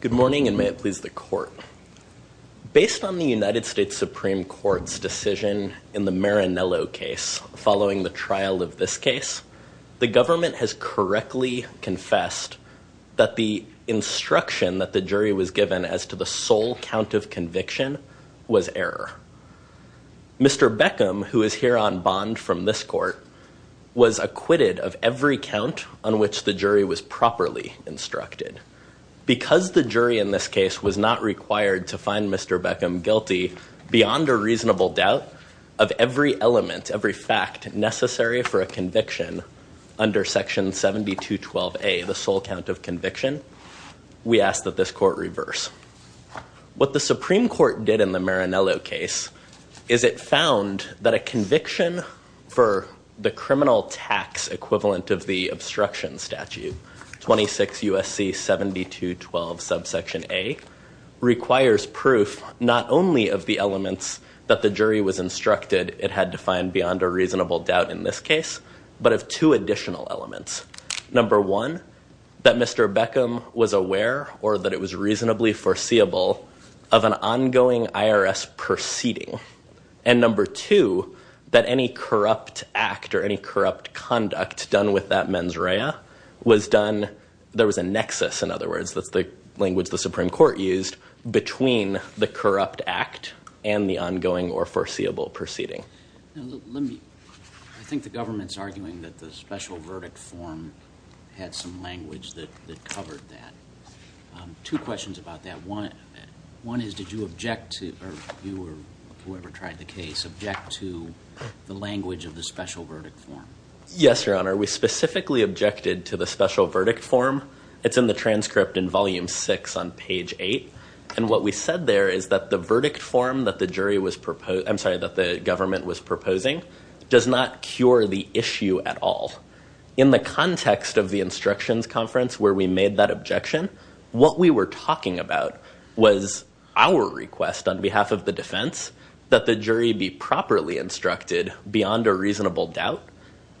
Good morning, and may it please the court. Based on the United States Supreme Court's decision in the Marinello case following the trial of this case, the government has correctly confessed that the instruction that the jury was given as to the sole count of conviction was error. Mr. Beckham, who is here on bond from this court, was acquitted of every count on which the jury was properly instructed. Because the jury in this case was not required to find Mr. Beckham guilty beyond a reasonable doubt of every element, every fact necessary for a conviction under Section 7212A, the sole count of conviction, we ask that this court reverse. What the Supreme Court did in the Marinello case is it found that a conviction for the criminal tax equivalent of the obstruction statute, 26 U.S.C. 7212 subsection A, requires proof not only of the elements that the jury was instructed it had to find beyond a reasonable doubt in this case, but of two additional elements. Number one, that Mr. Beckham was aware or that it was reasonably foreseeable of an ongoing IRS proceeding. And number two, that any corrupt act or any corrupt conduct done with that mens rea was done, there was a nexus, in other words, that's the language the Supreme Court used, between the corrupt act and the ongoing or foreseeable proceeding. I think the government's arguing that the special verdict form had some language that covered that. Two questions about that. One is did you object to, or you or whoever tried the case, object to the language of the special verdict form? Yes, Your Honor. We specifically objected to the special verdict form. It's in the transcript in volume six on page eight. And what we said there is that the verdict form that the government was proposing does not cure the issue at all. In the context of the instructions conference where we made that objection, what we were talking about was our request on behalf of the defense that the jury be properly instructed beyond a reasonable doubt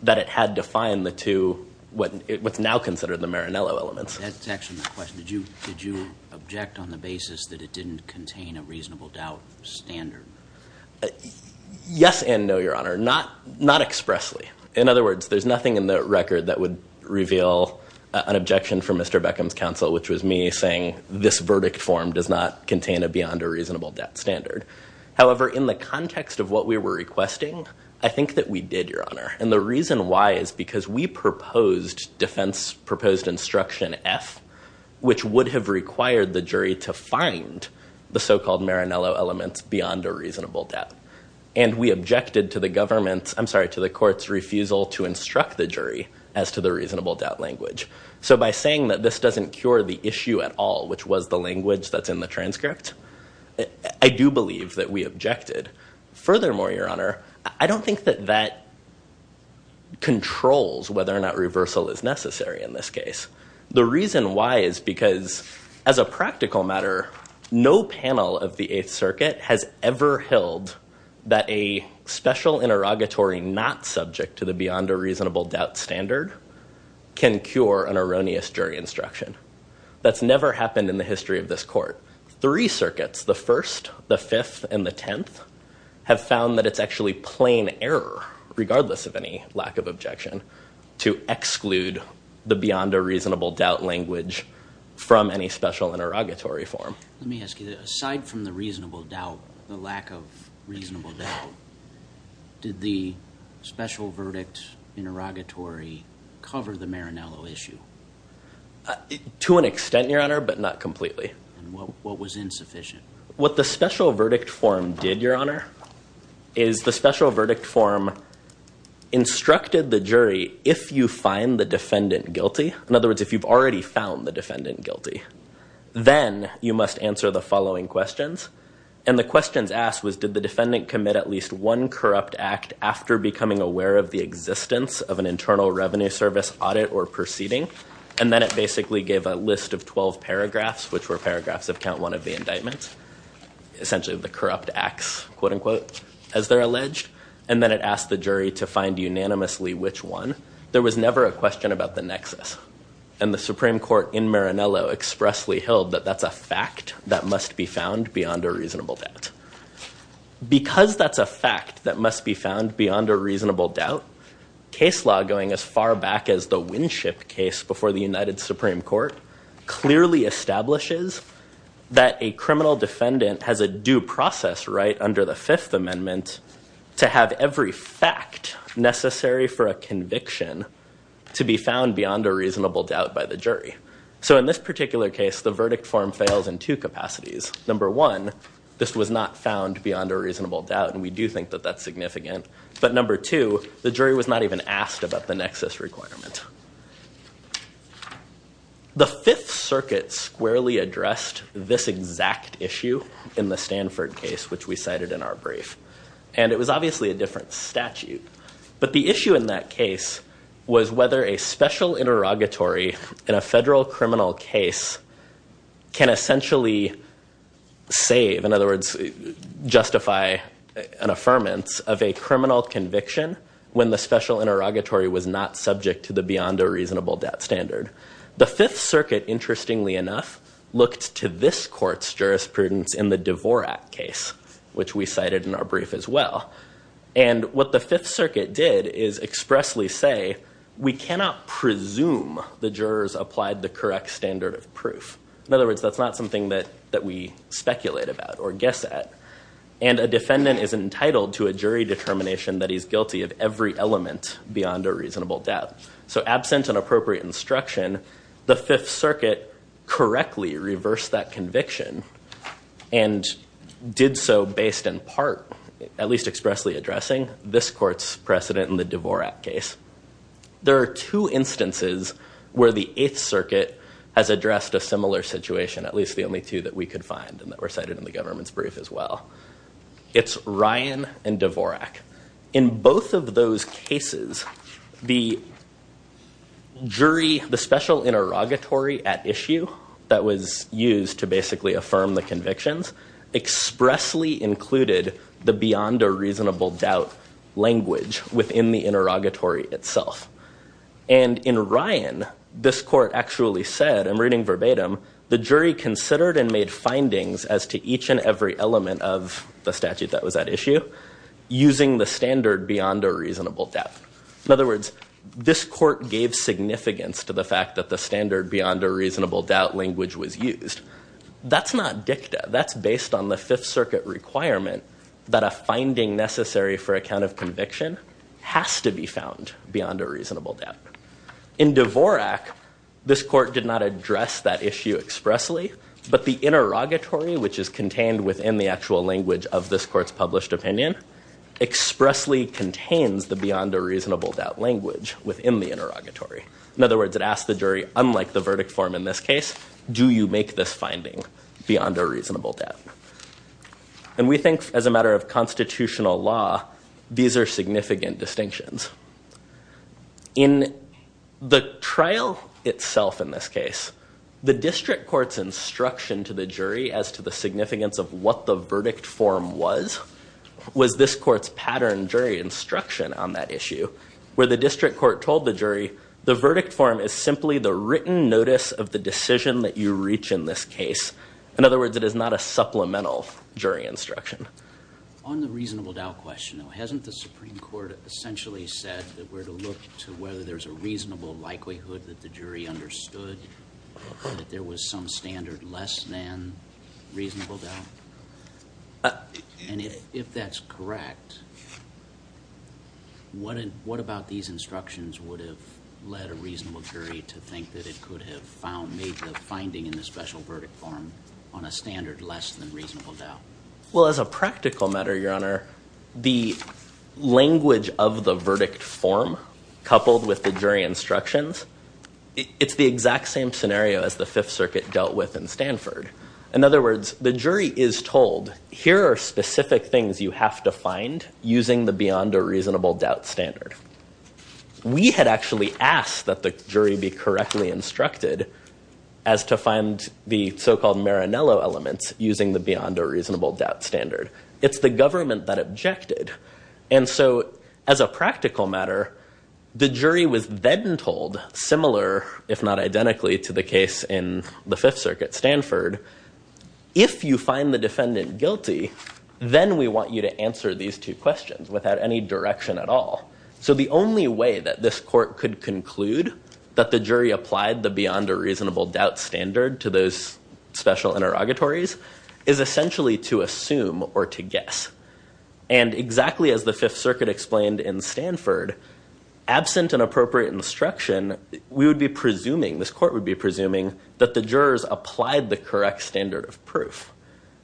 that it had to find the two, what's now considered the Marinello elements. That's actually my question. Did you object on the basis that it didn't contain a reasonable doubt standard? Yes and no, Your Honor. Not expressly. In other words, there's nothing in the record that would does not contain a beyond a reasonable doubt standard. However, in the context of what we were requesting, I think that we did, Your Honor. And the reason why is because we proposed defense proposed instruction F, which would have required the jury to find the so-called Marinello elements beyond a reasonable doubt. And we objected to the government's, I'm sorry, to the court's refusal to instruct the jury as to the reasonable doubt language. So by saying that this doesn't cure the issue at all, which was the language that's in the transcript, I do believe that we objected. Furthermore, Your Honor, I don't think that that controls whether or not reversal is necessary in this case. The reason why is because as a practical matter, no panel of the Eighth Circuit has ever held that a special interrogatory not subject to the beyond a reasonable doubt standard can cure an erroneous jury instruction. That's never happened in the history of this court. Three circuits, the First, the Fifth, and the Tenth, have found that it's actually plain error, regardless of any lack of objection, to exclude the beyond a reasonable doubt language from any special interrogatory form. Let me ask you, aside from the reasonable doubt, the lack of reasonable doubt, did the special verdict interrogatory cover the Marinello issue? To an extent, Your Honor, but not completely. And what was insufficient? What the special verdict form did, Your Honor, is the special verdict form instructed the jury, if you find the defendant guilty, in other words, if you've already found the defendant guilty. Then you must answer the following questions. And the questions asked was, did the defendant commit at least one corrupt act after becoming aware of the existence of an internal revenue service audit or proceeding? And then it basically gave a list of 12 paragraphs, which were paragraphs of count one of the indictments, essentially the corrupt acts, quote unquote, as they're alleged. And then it asked the jury to find unanimously which one. There was never a question about the nexus. And the Supreme Court in Marinello expressly held that that's a fact that must be found beyond a reasonable doubt. Because that's a fact that must be found beyond a reasonable doubt, case law, going as far back as the Winship case before the United Supreme Court, clearly establishes that a criminal defendant has a due process right under the Fifth Amendment to have every fact necessary for a conviction to be found beyond a reasonable doubt by the jury. So in this particular case, the verdict form fails in two capacities. Number one, this was not found beyond a reasonable doubt. And we do think that that's significant. But number two, the jury was not even asked about the nexus requirement. The Fifth Circuit squarely addressed this exact issue in the Stanford case, which we cited in our brief. And it was obviously a different statute. But the issue in that case was whether a special interrogatory in a federal criminal case can essentially save, in other words, justify an affirmance of a criminal conviction when the special interrogatory was not subject to the beyond a reasonable doubt standard. The Fifth Circuit, interestingly enough, looked to this court's jurisprudence in the Dvorak case, which we cited in our brief as well. And what the Fifth Circuit did is expressly say, we cannot presume the jurors applied the correct standard of proof. In other words, that's not something that we speculate about or guess at. And a defendant is entitled to a jury determination that he's guilty of every element beyond a reasonable doubt. So absent an appropriate instruction, the Fifth Circuit correctly reversed that conviction and did so based in part, at least expressly addressing this court's precedent in the Dvorak case. There are two instances where the Eighth Circuit has addressed a similar situation, at least the only two that we could find and that were cited in the government's brief as well. It's Ryan and Dvorak. In both of those cases, the jury, the special interrogatory at issue that was used to basically affirm the convictions expressly included the beyond a reasonable doubt language within the interrogatory itself. And in Ryan, this court actually said, I'm reading verbatim, the jury considered and made findings as to each and every element of the statute that was at issue using the standard beyond a reasonable doubt. In other words, this court gave significance to the fact that the standard beyond a reasonable doubt language was used. That's not dicta, that's based on the Fifth Circuit requirement that a finding necessary for a count of conviction has to be found beyond a reasonable doubt. In Dvorak, this court did not address that issue expressly, but the interrogatory which is contained within the actual language of this court's published opinion expressly contains the beyond a reasonable doubt language within the interrogatory. In other words, it asked the jury, unlike the verdict form in this case, do you make this finding beyond a reasonable doubt? And we think as a matter of constitutional law, these are significant distinctions. In the trial itself in this case, the district court's instruction to the jury as to the significance of what the verdict form was, was this court's pattern jury instruction on that issue, where the district court told the jury, the verdict form is simply the written notice of the decision that you reach in this case. In other words, it is not a supplemental jury instruction. On the reasonable doubt question, hasn't the Supreme Court essentially said that we're to look to whether there's a reasonable likelihood that the jury understood that there was some standard less than reasonable doubt? And if that's correct, what about these instructions would have led a reasonable jury to think that it could have found, made the finding in the special verdict form on a standard less than reasonable doubt? Well, as a practical matter, your honor, the language of the verdict form coupled with the jury instructions, it's the exact same scenario as the Fifth Circuit dealt with in Stanford. In other words, the jury is told, here are specific things you have to find using the beyond a reasonable doubt standard. We had actually asked that the jury be correctly instructed as to find the so-called Maranello elements using the beyond a reasonable doubt standard. It's the government that objected. And so, as a practical matter, the jury was then told, similar if not identically to the case in the Fifth Circuit Stanford, if you find the defendant guilty, then we want you to answer these two questions without any direction at all. So the only way that this court could conclude that the jury applied the beyond a reasonable doubt standard to those special interrogatories is essentially to assume or to guess. And exactly as the Fifth Circuit explained in Stanford, absent an appropriate instruction, we would be presuming, this court would be presuming, that the jurors applied the correct standard of proof.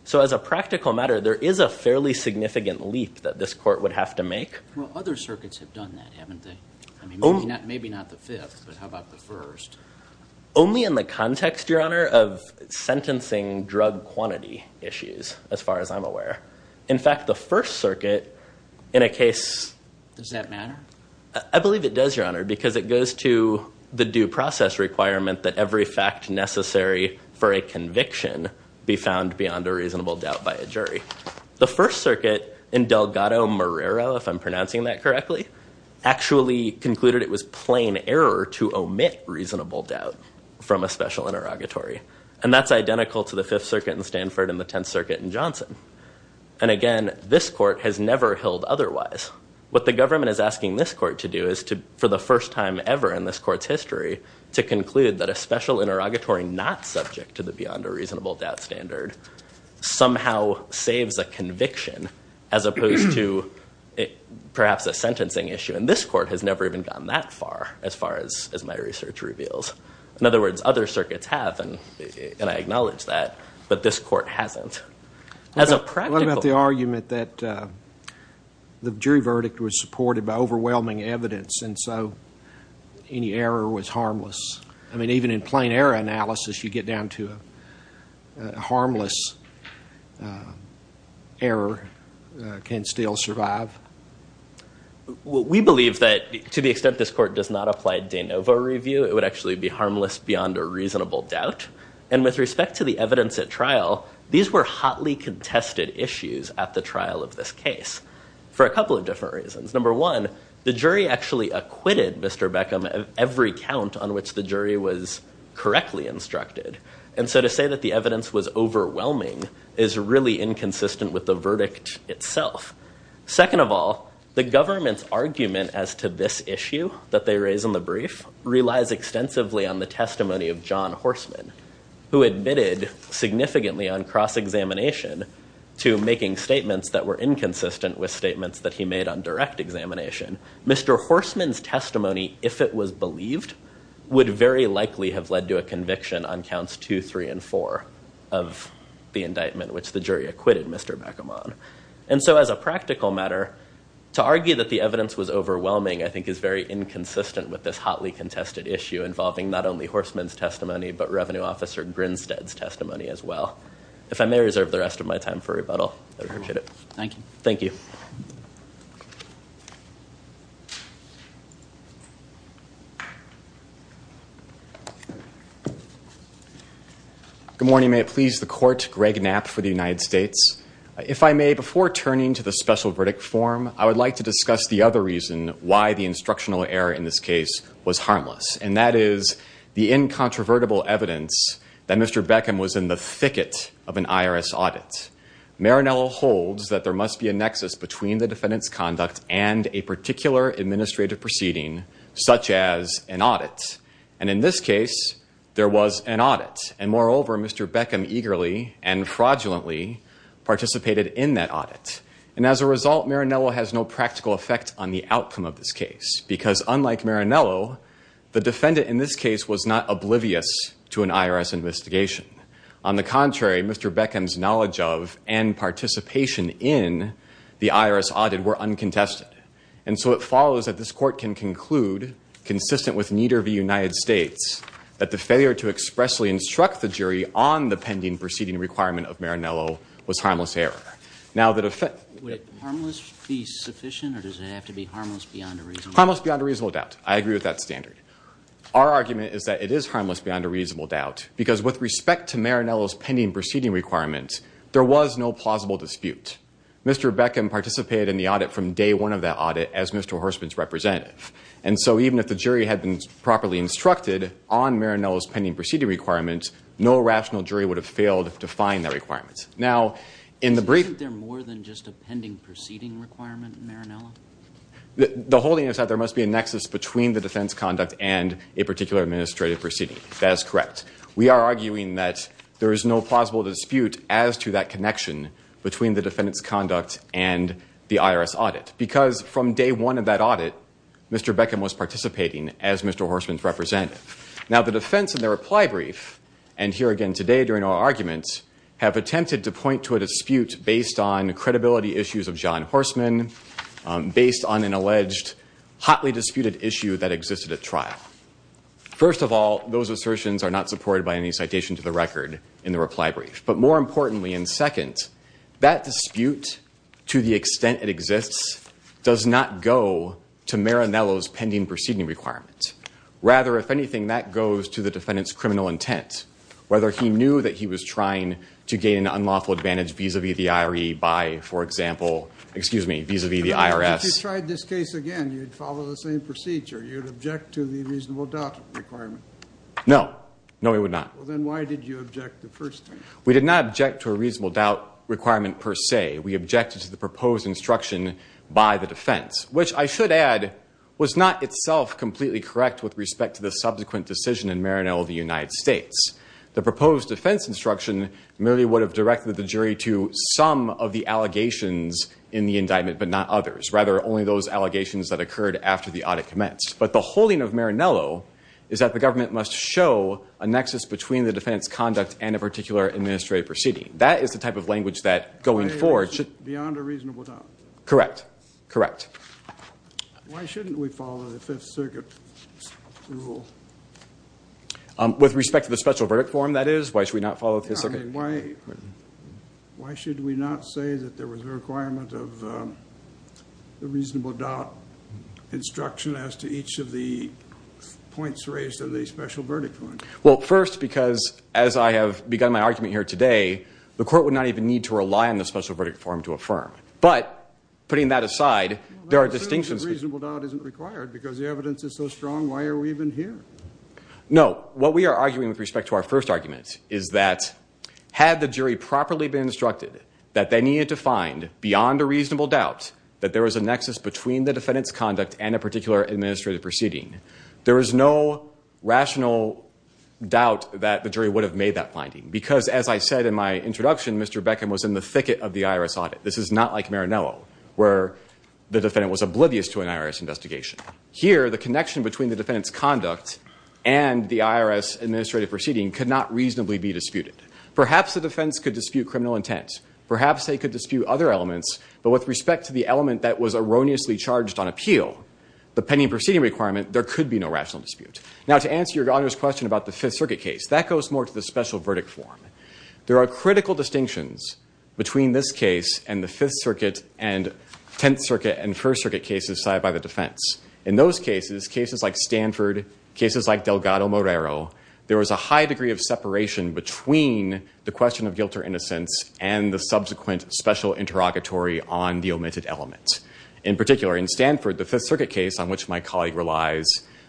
So as a practical matter, there is a fairly significant leap that this court would have to make. Well, other circuits have done that, haven't they? I mean, maybe not the Fifth, but how about the First? Only in the context, your honor, of sentencing drug quantity issues, as far as I'm aware. In fact, the First Circuit, in a case... Does that matter? I believe it does, your honor, because it goes to the due process requirement that every fact necessary for a conviction be found beyond a reasonable doubt by a jury. The First Circuit, in Delgado-Morero, if I'm pronouncing that correctly, actually concluded it was plain error to omit reasonable doubt from a special interrogatory. And that's identical to the Fifth Circuit in Stanford and the Tenth Circuit in Johnson. And again, this court has never held otherwise. What the government is asking this court to do is to, for the first time ever in this court's history, to conclude that a special interrogatory not subject to the beyond a reasonable doubt standard somehow saves a conviction, as opposed to perhaps a sentencing issue. And this court has never even gone that far, as far as my research reveals. In other words, other circuits have, and I acknowledge that, but this court hasn't. What about the argument that the jury verdict was supported by overwhelming evidence, and so any error was harmless? I mean, even in plain error analysis, you get down to a harmless error can still survive. Well, we believe that, to the extent this court does not apply a de novo review, it would actually be harmless beyond a reasonable doubt. And with respect to the evidence at trial, these were hotly contested issues at the trial of this case for a couple different reasons. Number one, the jury actually acquitted Mr. Beckham of every count on which the jury was correctly instructed. And so to say that the evidence was overwhelming is really inconsistent with the verdict itself. Second of all, the government's argument as to this issue that they raise in the brief relies extensively on the testimony of John Horsman, who admitted significantly on cross-examination to making statements that were inconsistent with statements that he made on direct examination. Mr. Horsman's testimony, if it was believed, would very likely have led to a conviction on counts two, three, and four of the indictment which the jury acquitted Mr. Beckham on. And so as a practical matter, to argue that the evidence was overwhelming, I think, is very inconsistent with this hotly contested issue involving not only Horsman's testimony, but Revenue Officer Grinstead's testimony as well. If I may reserve the rest of my time for rebuttal, I appreciate it. Thank you. Thank you. Good morning. May it please the court, Greg Knapp for the United States. If I may, before turning to the special verdict form, I would like to discuss the other reason why the instructional error in this case was harmless, and that is the incontrovertible evidence that Mr. Beckham was in of an IRS audit. Marinello holds that there must be a nexus between the defendant's conduct and a particular administrative proceeding, such as an audit. And in this case, there was an audit. And moreover, Mr. Beckham eagerly and fraudulently participated in that audit. And as a result, Marinello has no practical effect on the outcome of this case, because unlike Marinello, the defendant in this case was not oblivious to an IRS investigation. On the contrary, Mr. Beckham's knowledge of and participation in the IRS audit were uncontested. And so it follows that this court can conclude, consistent with neither of the United States, that the failure to expressly instruct the jury on the pending proceeding requirement of Marinello was harmless error. Now, the defendant... Would harmless be sufficient, or does it have to be harmless beyond a reasonable doubt? Harmless beyond a reasonable doubt. I agree with that standard. Our argument is that it is harmless beyond a reasonable doubt, because with respect to Marinello's pending proceeding requirements, there was no plausible dispute. Mr. Beckham participated in the audit from day one of that audit as Mr. Horstman's representative. And so even if the jury had been properly instructed on Marinello's pending proceeding requirements, no rational jury would have failed to find that requirement. Now, in the brief... Isn't there more than just a pending proceeding requirement in Marinello? The whole thing is that there must be a nexus between the defense conduct and a particular administrative proceeding. That is correct. We are arguing that there is no plausible dispute as to that connection between the defendant's conduct and the IRS audit, because from day one of that audit, Mr. Beckham was participating as Mr. Horstman's representative. Now, the defense in their reply brief, and here again today during our argument, have attempted to point to a dispute based on credibility issues of John Horstman, based on an alleged hotly disputed issue that existed at trial. First of all, those assertions are not supported by any citation to the record in the reply brief. But more importantly, and second, that dispute to the extent it exists does not go to Marinello's pending proceeding requirements. Rather, if anything, that goes to the defendant's criminal intent, whether he knew that he was trying to gain an unlawful advantage vis-a-vis the IRE by, for example, excuse me, vis-a-vis the IRS. If you tried this case again, you'd follow the same procedure. You'd object to the reasonable doubt requirement? No. No, we would not. Well, then why did you object the first time? We did not object to a reasonable doubt requirement per se. We objected to the proposed instruction by the defense, which I should add was not itself completely correct with respect to the subsequent decision in Marinello of the United States. The proposed defense instruction merely would have directed the jury to some of the allegations in the indictment, but not others. Rather, only those allegations that occurred after the audit commenced. But the holding of Marinello is that the government must show a nexus between the defendant's conduct and a particular administrative proceeding. That is the type of language that going forward should- Beyond a reasonable doubt. Correct. Correct. Why shouldn't we follow the special verdict form, that is? Why should we not follow- Why should we not say that there was a requirement of the reasonable doubt instruction as to each of the points raised in the special verdict form? Well, first, because as I have begun my argument here today, the court would not even need to rely on the special verdict form to affirm. But putting that aside, there are distinctions- Reasonable doubt isn't required because the evidence is so strong. Why are we even here? No. What we are arguing with respect to our first argument is that had the jury properly been instructed that they needed to find, beyond a reasonable doubt, that there was a nexus between the defendant's conduct and a particular administrative proceeding, there is no rational doubt that the jury would have made that finding. Because as I said in my introduction, Mr. Beckham was in the thicket of the IRS audit. This is not like Marinello, where the defendant was oblivious to an IRS investigation. Here, the connection between the defendant's conduct and the IRS administrative proceeding could not reasonably be disputed. Perhaps the defense could dispute criminal intent. Perhaps they could dispute other elements. But with respect to the element that was erroneously charged on appeal, the pending proceeding requirement, there could be no rational dispute. Now, to answer your question about the Fifth Circuit case, that goes more to the special verdict form. There are critical distinctions between this case and the Fifth Circuit case. In those cases, cases like Stanford, cases like Delgado-Morero, there was a high degree of separation between the question of guilt or innocence and the subsequent special interrogatory on the omitted element. In particular, in Stanford, the Fifth Circuit case, on which my colleague relies,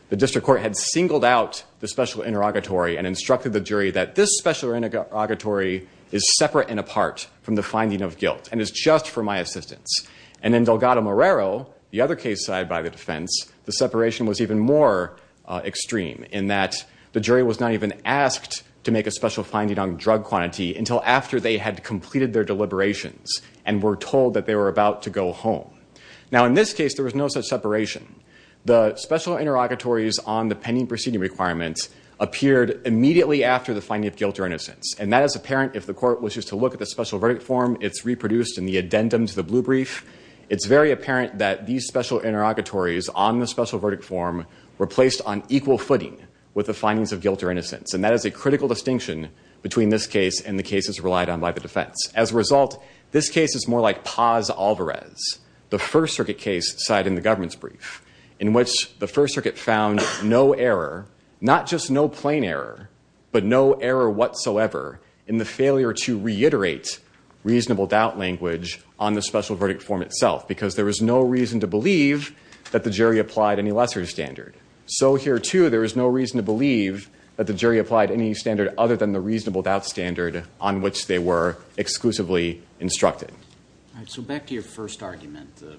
the district court had singled out the special interrogatory and instructed the jury that this special interrogatory is separate and apart from the finding of guilt and is just for my case side by the defense, the separation was even more extreme in that the jury was not even asked to make a special finding on drug quantity until after they had completed their deliberations and were told that they were about to go home. Now, in this case, there was no such separation. The special interrogatories on the pending proceeding requirements appeared immediately after the finding of guilt or innocence. And that is apparent if the court wishes to look at the special verdict form. It's reproduced in the addendum to the blue brief. It's very apparent that these special interrogatories on the special verdict form were placed on equal footing with the findings of guilt or innocence. And that is a critical distinction between this case and the cases relied on by the defense. As a result, this case is more like Paz-Alvarez, the First Circuit case side in the government's brief, in which the First Circuit found no error, not just no plain error, but no error whatsoever in the failure to reiterate reasonable doubt language on the special verdict. There is no reason to believe that the jury applied any lesser standard. So here, too, there is no reason to believe that the jury applied any standard other than the reasonable doubt standard on which they were exclusively instructed. All right, so back to your first argument, the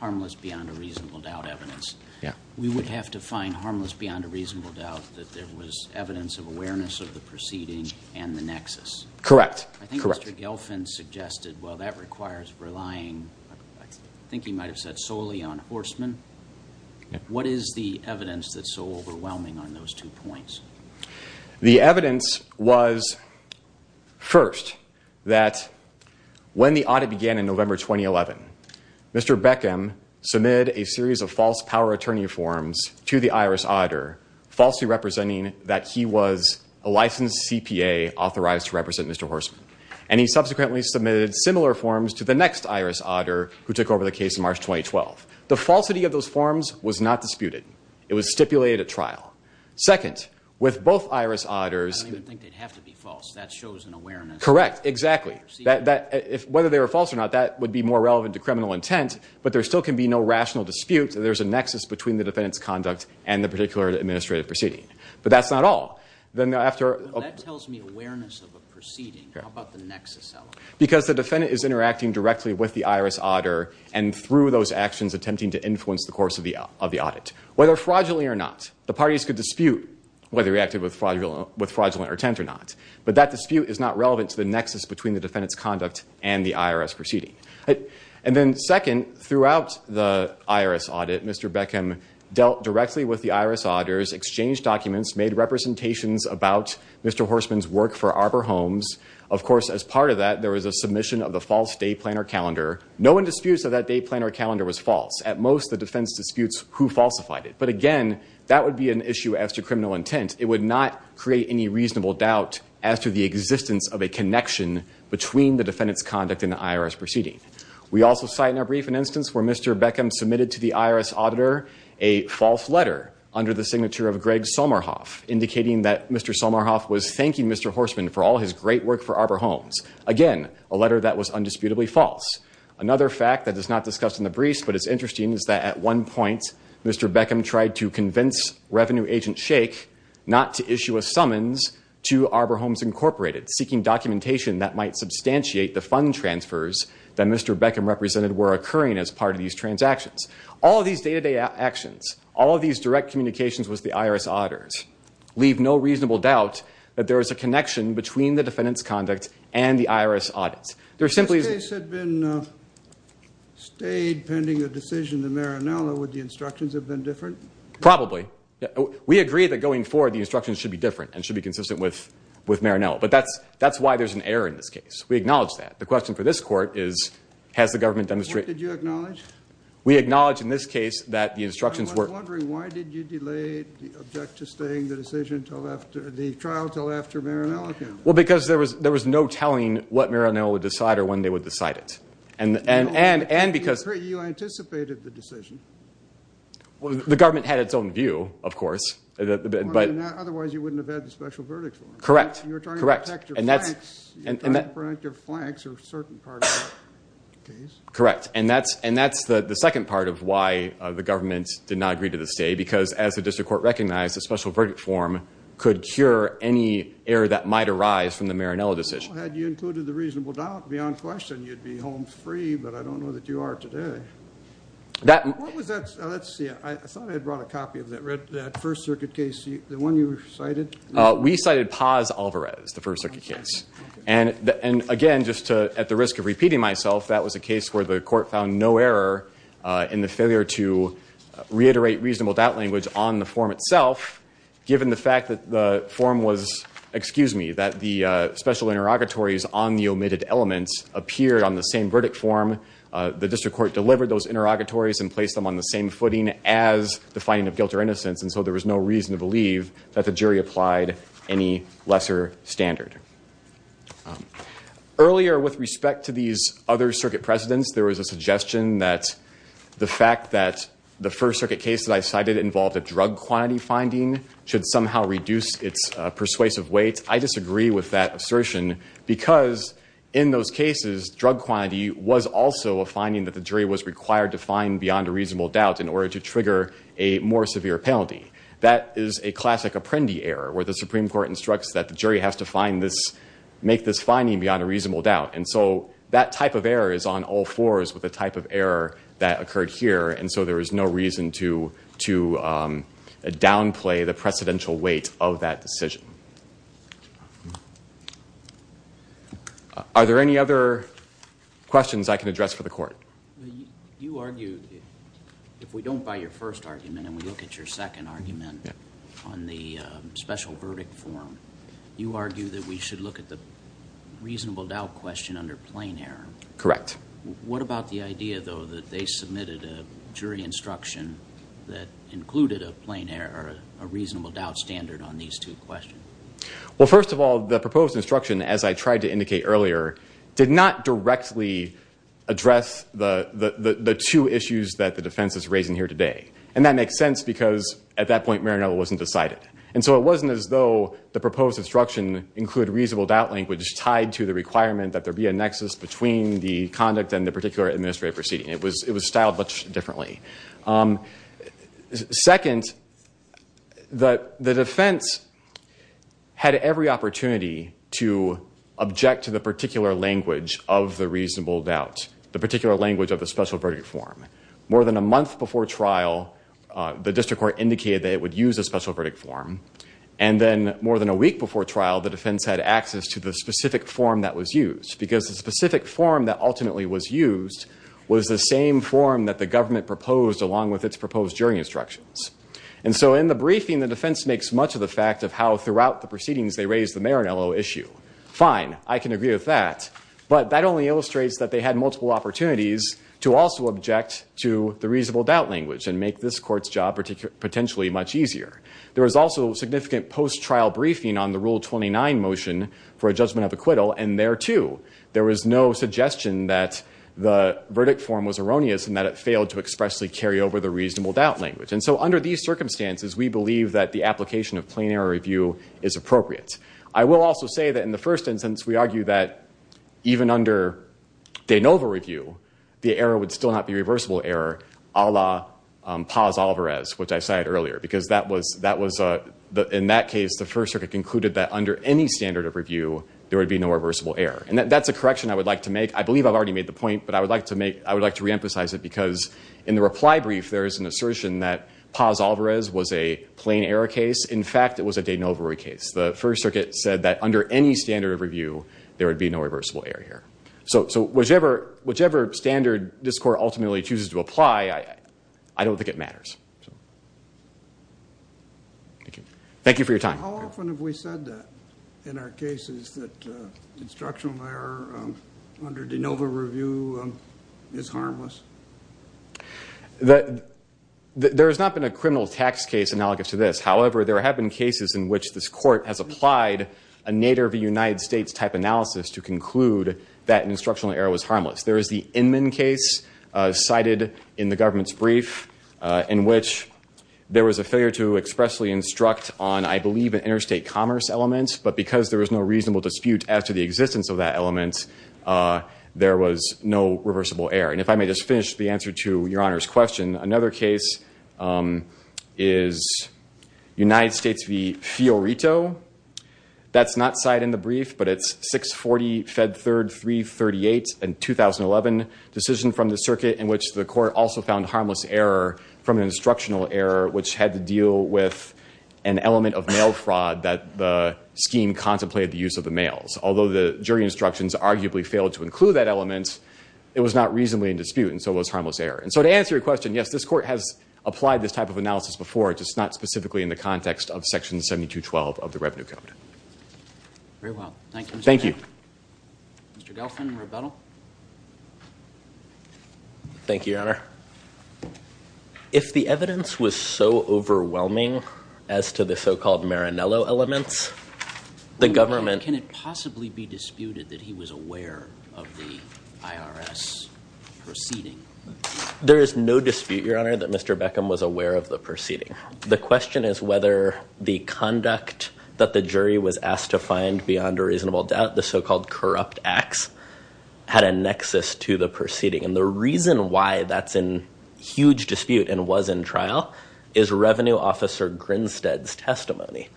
harmless beyond a reasonable doubt evidence. Yeah. We would have to find harmless beyond a reasonable doubt that there was evidence of awareness of the proceeding and the nexus. Correct. I think Mr. Gelfand suggested, well, that requires relying, I think he might have said solely on Horstman. What is the evidence that's so overwhelming on those two points? The evidence was, first, that when the audit began in November 2011, Mr. Beckham submitted a series of false power attorney forms to the IRS auditor, falsely representing that he was a licensed CPA authorized to represent Mr. Horstman. And he subsequently submitted similar forms to the next IRS auditor who took over the case in March 2012. The falsity of those forms was not disputed. It was stipulated at trial. Second, with both IRS auditors... I don't even think they'd have to be false. That shows an awareness. Correct. Exactly. Whether they were false or not, that would be more relevant to criminal intent, but there still can be no rational dispute that there's a nexus between the defendant's conduct and the particular administrative proceeding. But that's not all. Then after... That tells me of a proceeding. How about the nexus element? Because the defendant is interacting directly with the IRS auditor and through those actions attempting to influence the course of the audit. Whether fraudulently or not, the parties could dispute whether he acted with fraudulent intent or not. But that dispute is not relevant to the nexus between the defendant's conduct and the IRS proceeding. And then second, throughout the IRS audit, Mr. Beckham dealt directly with the IRS auditors, exchanged documents, made representations about Mr. Horsman's work for Arbor Homes. Of course, as part of that, there was a submission of the false day planner calendar. No one disputes that that day planner calendar was false. At most, the defense disputes who falsified it. But again, that would be an issue as to criminal intent. It would not create any reasonable doubt as to the existence of a connection between the defendant's conduct and the IRS proceeding. We also cite in our brief an instance where Mr. Beckham submitted to the IRS auditor a false letter under the signature of Greg Solmarhoff, indicating that Mr. Solmarhoff was thanking Mr. Horsman for all his great work for Arbor Homes. Again, a letter that was undisputably false. Another fact that is not discussed in the briefs, but is interesting, is that at one point, Mr. Beckham tried to convince Revenue Agent Shake not to issue a summons to Arbor Homes Incorporated, seeking documentation that might substantiate the fund transfers that Mr. Beckham represented were occurring as part of these transactions. All of these day-to-day actions, all of these direct communications with the IRS auditors leave no reasonable doubt that there is a connection between the defendant's conduct and the IRS audits. There simply... This case had been stayed pending a decision to Marinello. Would the instructions have been different? Probably. We agree that going forward, the instructions should be different and should be consistent with Marinello. But that's why there's an error in this case. We acknowledge that. The question for this court is, has the government demonstrated... What did you acknowledge? We acknowledge in this case that the instructions were... I was wondering, why did you delay the object to staying the decision till after... The trial till after Marinello came? Well, because there was no telling what Marinello would decide or when they would decide it. And because... You anticipated the decision. Well, the government had its own view, of course. Otherwise, you wouldn't have had the special verdict for him. Correct. Correct. You were talking about effective flanks. You were talking about effective flanks or certain parts of the case. Correct. And that's the second part of why the government did not agree to the stay, because as the district court recognized, the special verdict form could cure any error that might arise from the Marinello decision. Had you included the reasonable doubt beyond question, you'd be home free, but I don't know that you are today. What was that? Let's see. I thought I had brought a copy of that first circuit case, the one you cited. We cited Paz-Alvarez, the first circuit case. And again, just at the risk of repeating myself, that was a case where the court found no error in the failure to reiterate reasonable doubt language on the form itself, given the fact that the form was, excuse me, that the special interrogatories on the omitted elements appeared on the same verdict form. The district court delivered those interrogatories and placed them on the same footing as the finding of guilt or innocence. And so there was no reason to believe that the jury applied any lesser standard. Earlier, with respect to these other circuit precedents, there was a suggestion that the fact that the first circuit case that I cited involved a drug quantity finding should somehow reduce its persuasive weight. I disagree with that assertion because in those cases, drug quantity was also a finding that the jury was required to find beyond a reasonable doubt in order to trigger a more severe penalty. That is a classic Apprendi error, where the Supreme Court instructs that the jury has to make this finding beyond a reasonable doubt. And so that type of error is on all fours with the type of error that occurred here. And so there is no reason to downplay the precedential weight of that decision. Are there any other questions I can address for the court? You argued, if we don't buy your first argument and we look at your second argument on the special verdict form, you argue that we should look at the under plain error. Correct. What about the idea, though, that they submitted a jury instruction that included a plain error, a reasonable doubt standard on these two questions? Well, first of all, the proposed instruction, as I tried to indicate earlier, did not directly address the two issues that the defense is raising here today. And that makes sense because at that point, Maranello wasn't decided. And so it wasn't as though the proposed instruction included reasonable doubt language tied to the requirement that there be a nexus between the conduct and the particular administrative proceeding. It was styled much differently. Second, the defense had every opportunity to object to the particular language of the reasonable doubt, the particular language of the special verdict form. More than a month before trial, the district court indicated that it would use a special form that was used. Because the specific form that ultimately was used was the same form that the government proposed along with its proposed jury instructions. And so in the briefing, the defense makes much of the fact of how throughout the proceedings they raised the Maranello issue. Fine. I can agree with that. But that only illustrates that they had multiple opportunities to also object to the reasonable doubt language and make this court's job potentially much easier. There was also significant post-trial briefing on the Rule 29 motion for a judgment of acquittal, and there too, there was no suggestion that the verdict form was erroneous and that it failed to expressly carry over the reasonable doubt language. And so under these circumstances, we believe that the application of plain error review is appropriate. I will also say that in the first instance, we argue that even under de novo review, the error would still not be reversible error a la Paz-Olivares, which I cited earlier. Because in that case, the First Circuit concluded that under any standard of review, there would be no reversible error. And that's a correction I would like to make. I believe I've already made the point, but I would like to reemphasize it because in the reply brief, there is an assertion that Paz-Olivares was a plain error case. In fact, it was a de novo case. The First Circuit said that under any standard of review, there would be no reversible error error. So whichever standard this court ultimately chooses to apply, I don't think it matters. Thank you for your time. How often have we said that in our cases that instructional error under de novo review is harmless? There has not been a criminal tax case analogous to this. However, there have been cases in which this court has applied a Nader v. United States type analysis to conclude that instructional error was harmless. There is the Inman case cited in the government's brief in which there was a failure to expressly instruct on, I believe, an interstate commerce element. But because there was no reasonable dispute as to the existence of that element, there was no reversible error. And if I may just finish the answer to Your Honor's question, another case is United States v. Fiorito. That's not cited in the brief, but it's 640 Fed 3338 in 2011 decision from the circuit in which the court also found harmless error from an instructional error which had to deal with an element of mail fraud that the scheme contemplated the use of the mails. Although the jury instructions arguably failed to include that element, it was not reasonably in dispute, and so it was harmless error. And so to answer your question, yes, this court has applied this type of analysis before, just not specifically in the context of Section 7212 of the Revenue Code. Very well. Thank you. Mr. Galfin, rebuttal. Thank you, Your Honor. If the evidence was so overwhelming as to the so-called Maranello elements, the government Can it possibly be disputed that he was aware of the IRS proceeding? There is no dispute, Your Honor, that Mr. Beckham was aware of the proceeding. The question is whether the conduct that the jury was asked to find beyond a reasonable doubt, the so-called corrupt acts, had a nexus to the proceeding. And the reason why that's in huge dispute and was in trial is Revenue Officer Grinstead's testimony.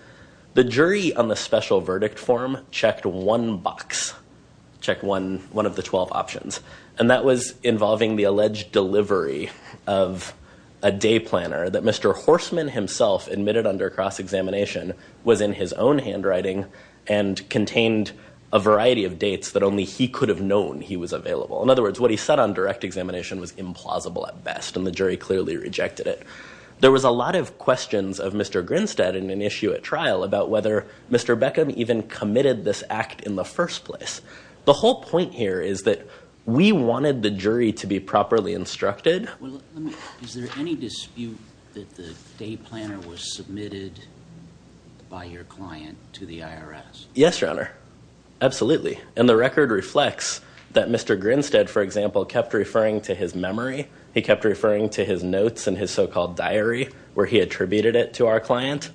The jury on the special verdict form checked one box, checked one of the 12 options, and that was involving the alleged delivery of a day planner that Mr. Horstman himself admitted under cross-examination was in his own handwriting and contained a variety of dates that only he could have known he was available. In other words, what he said on direct examination was implausible at best, and the jury clearly rejected it. There was a lot of questions of Mr. Grinstead in an issue at trial about whether Mr. Beckham even committed this act in the first place. The whole point here is that we wanted the jury to be properly instructed. Is there any dispute that the day planner was submitted by your client to the IRS? Yes, Your Honor. Absolutely. And the record reflects that Mr. Grinstead, for example, kept referring to his memory. He kept referring to his notes in his so-called diary where he attributed it to our client.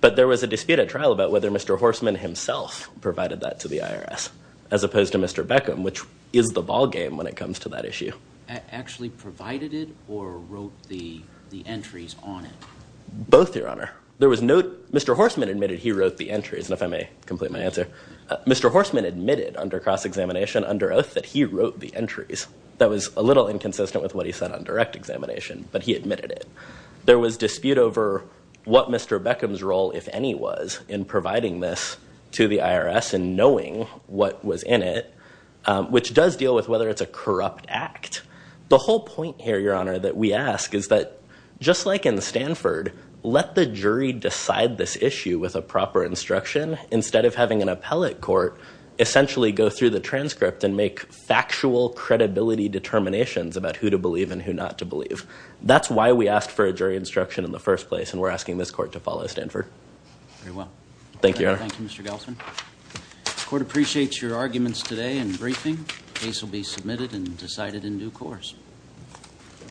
But there was a dispute at trial about whether Mr. Horstman himself provided that to the IRS as opposed to Mr. Beckham, which is the ballgame when it comes to that issue. Actually provided it or wrote the entries on it? Both, Your Honor. There was no—Mr. Horstman admitted he wrote the entries, and if I may complete my answer, Mr. Horstman admitted under cross-examination, under oath, that he wrote the entries. That was a little inconsistent with what he said on direct examination, but he admitted it. There was dispute over what Mr. Beckham's role, if any, was in providing this to the IRS and knowing what was in it, which does deal with whether it's a corrupt act. The whole point here, Your Honor, that we ask is that, just like in Stanford, let the jury decide this issue with a proper instruction instead of having an appellate court essentially go through the transcript and make factual credibility determinations about who to believe and who not to believe. That's why we asked for a jury instruction in the first place, and we're asking this court to follow Stanford. Very well. Thank you, Your Honor. Thank you, Mr. Gelsman. The court appreciates your arguments today and briefing. Case will be submitted and decided in due course.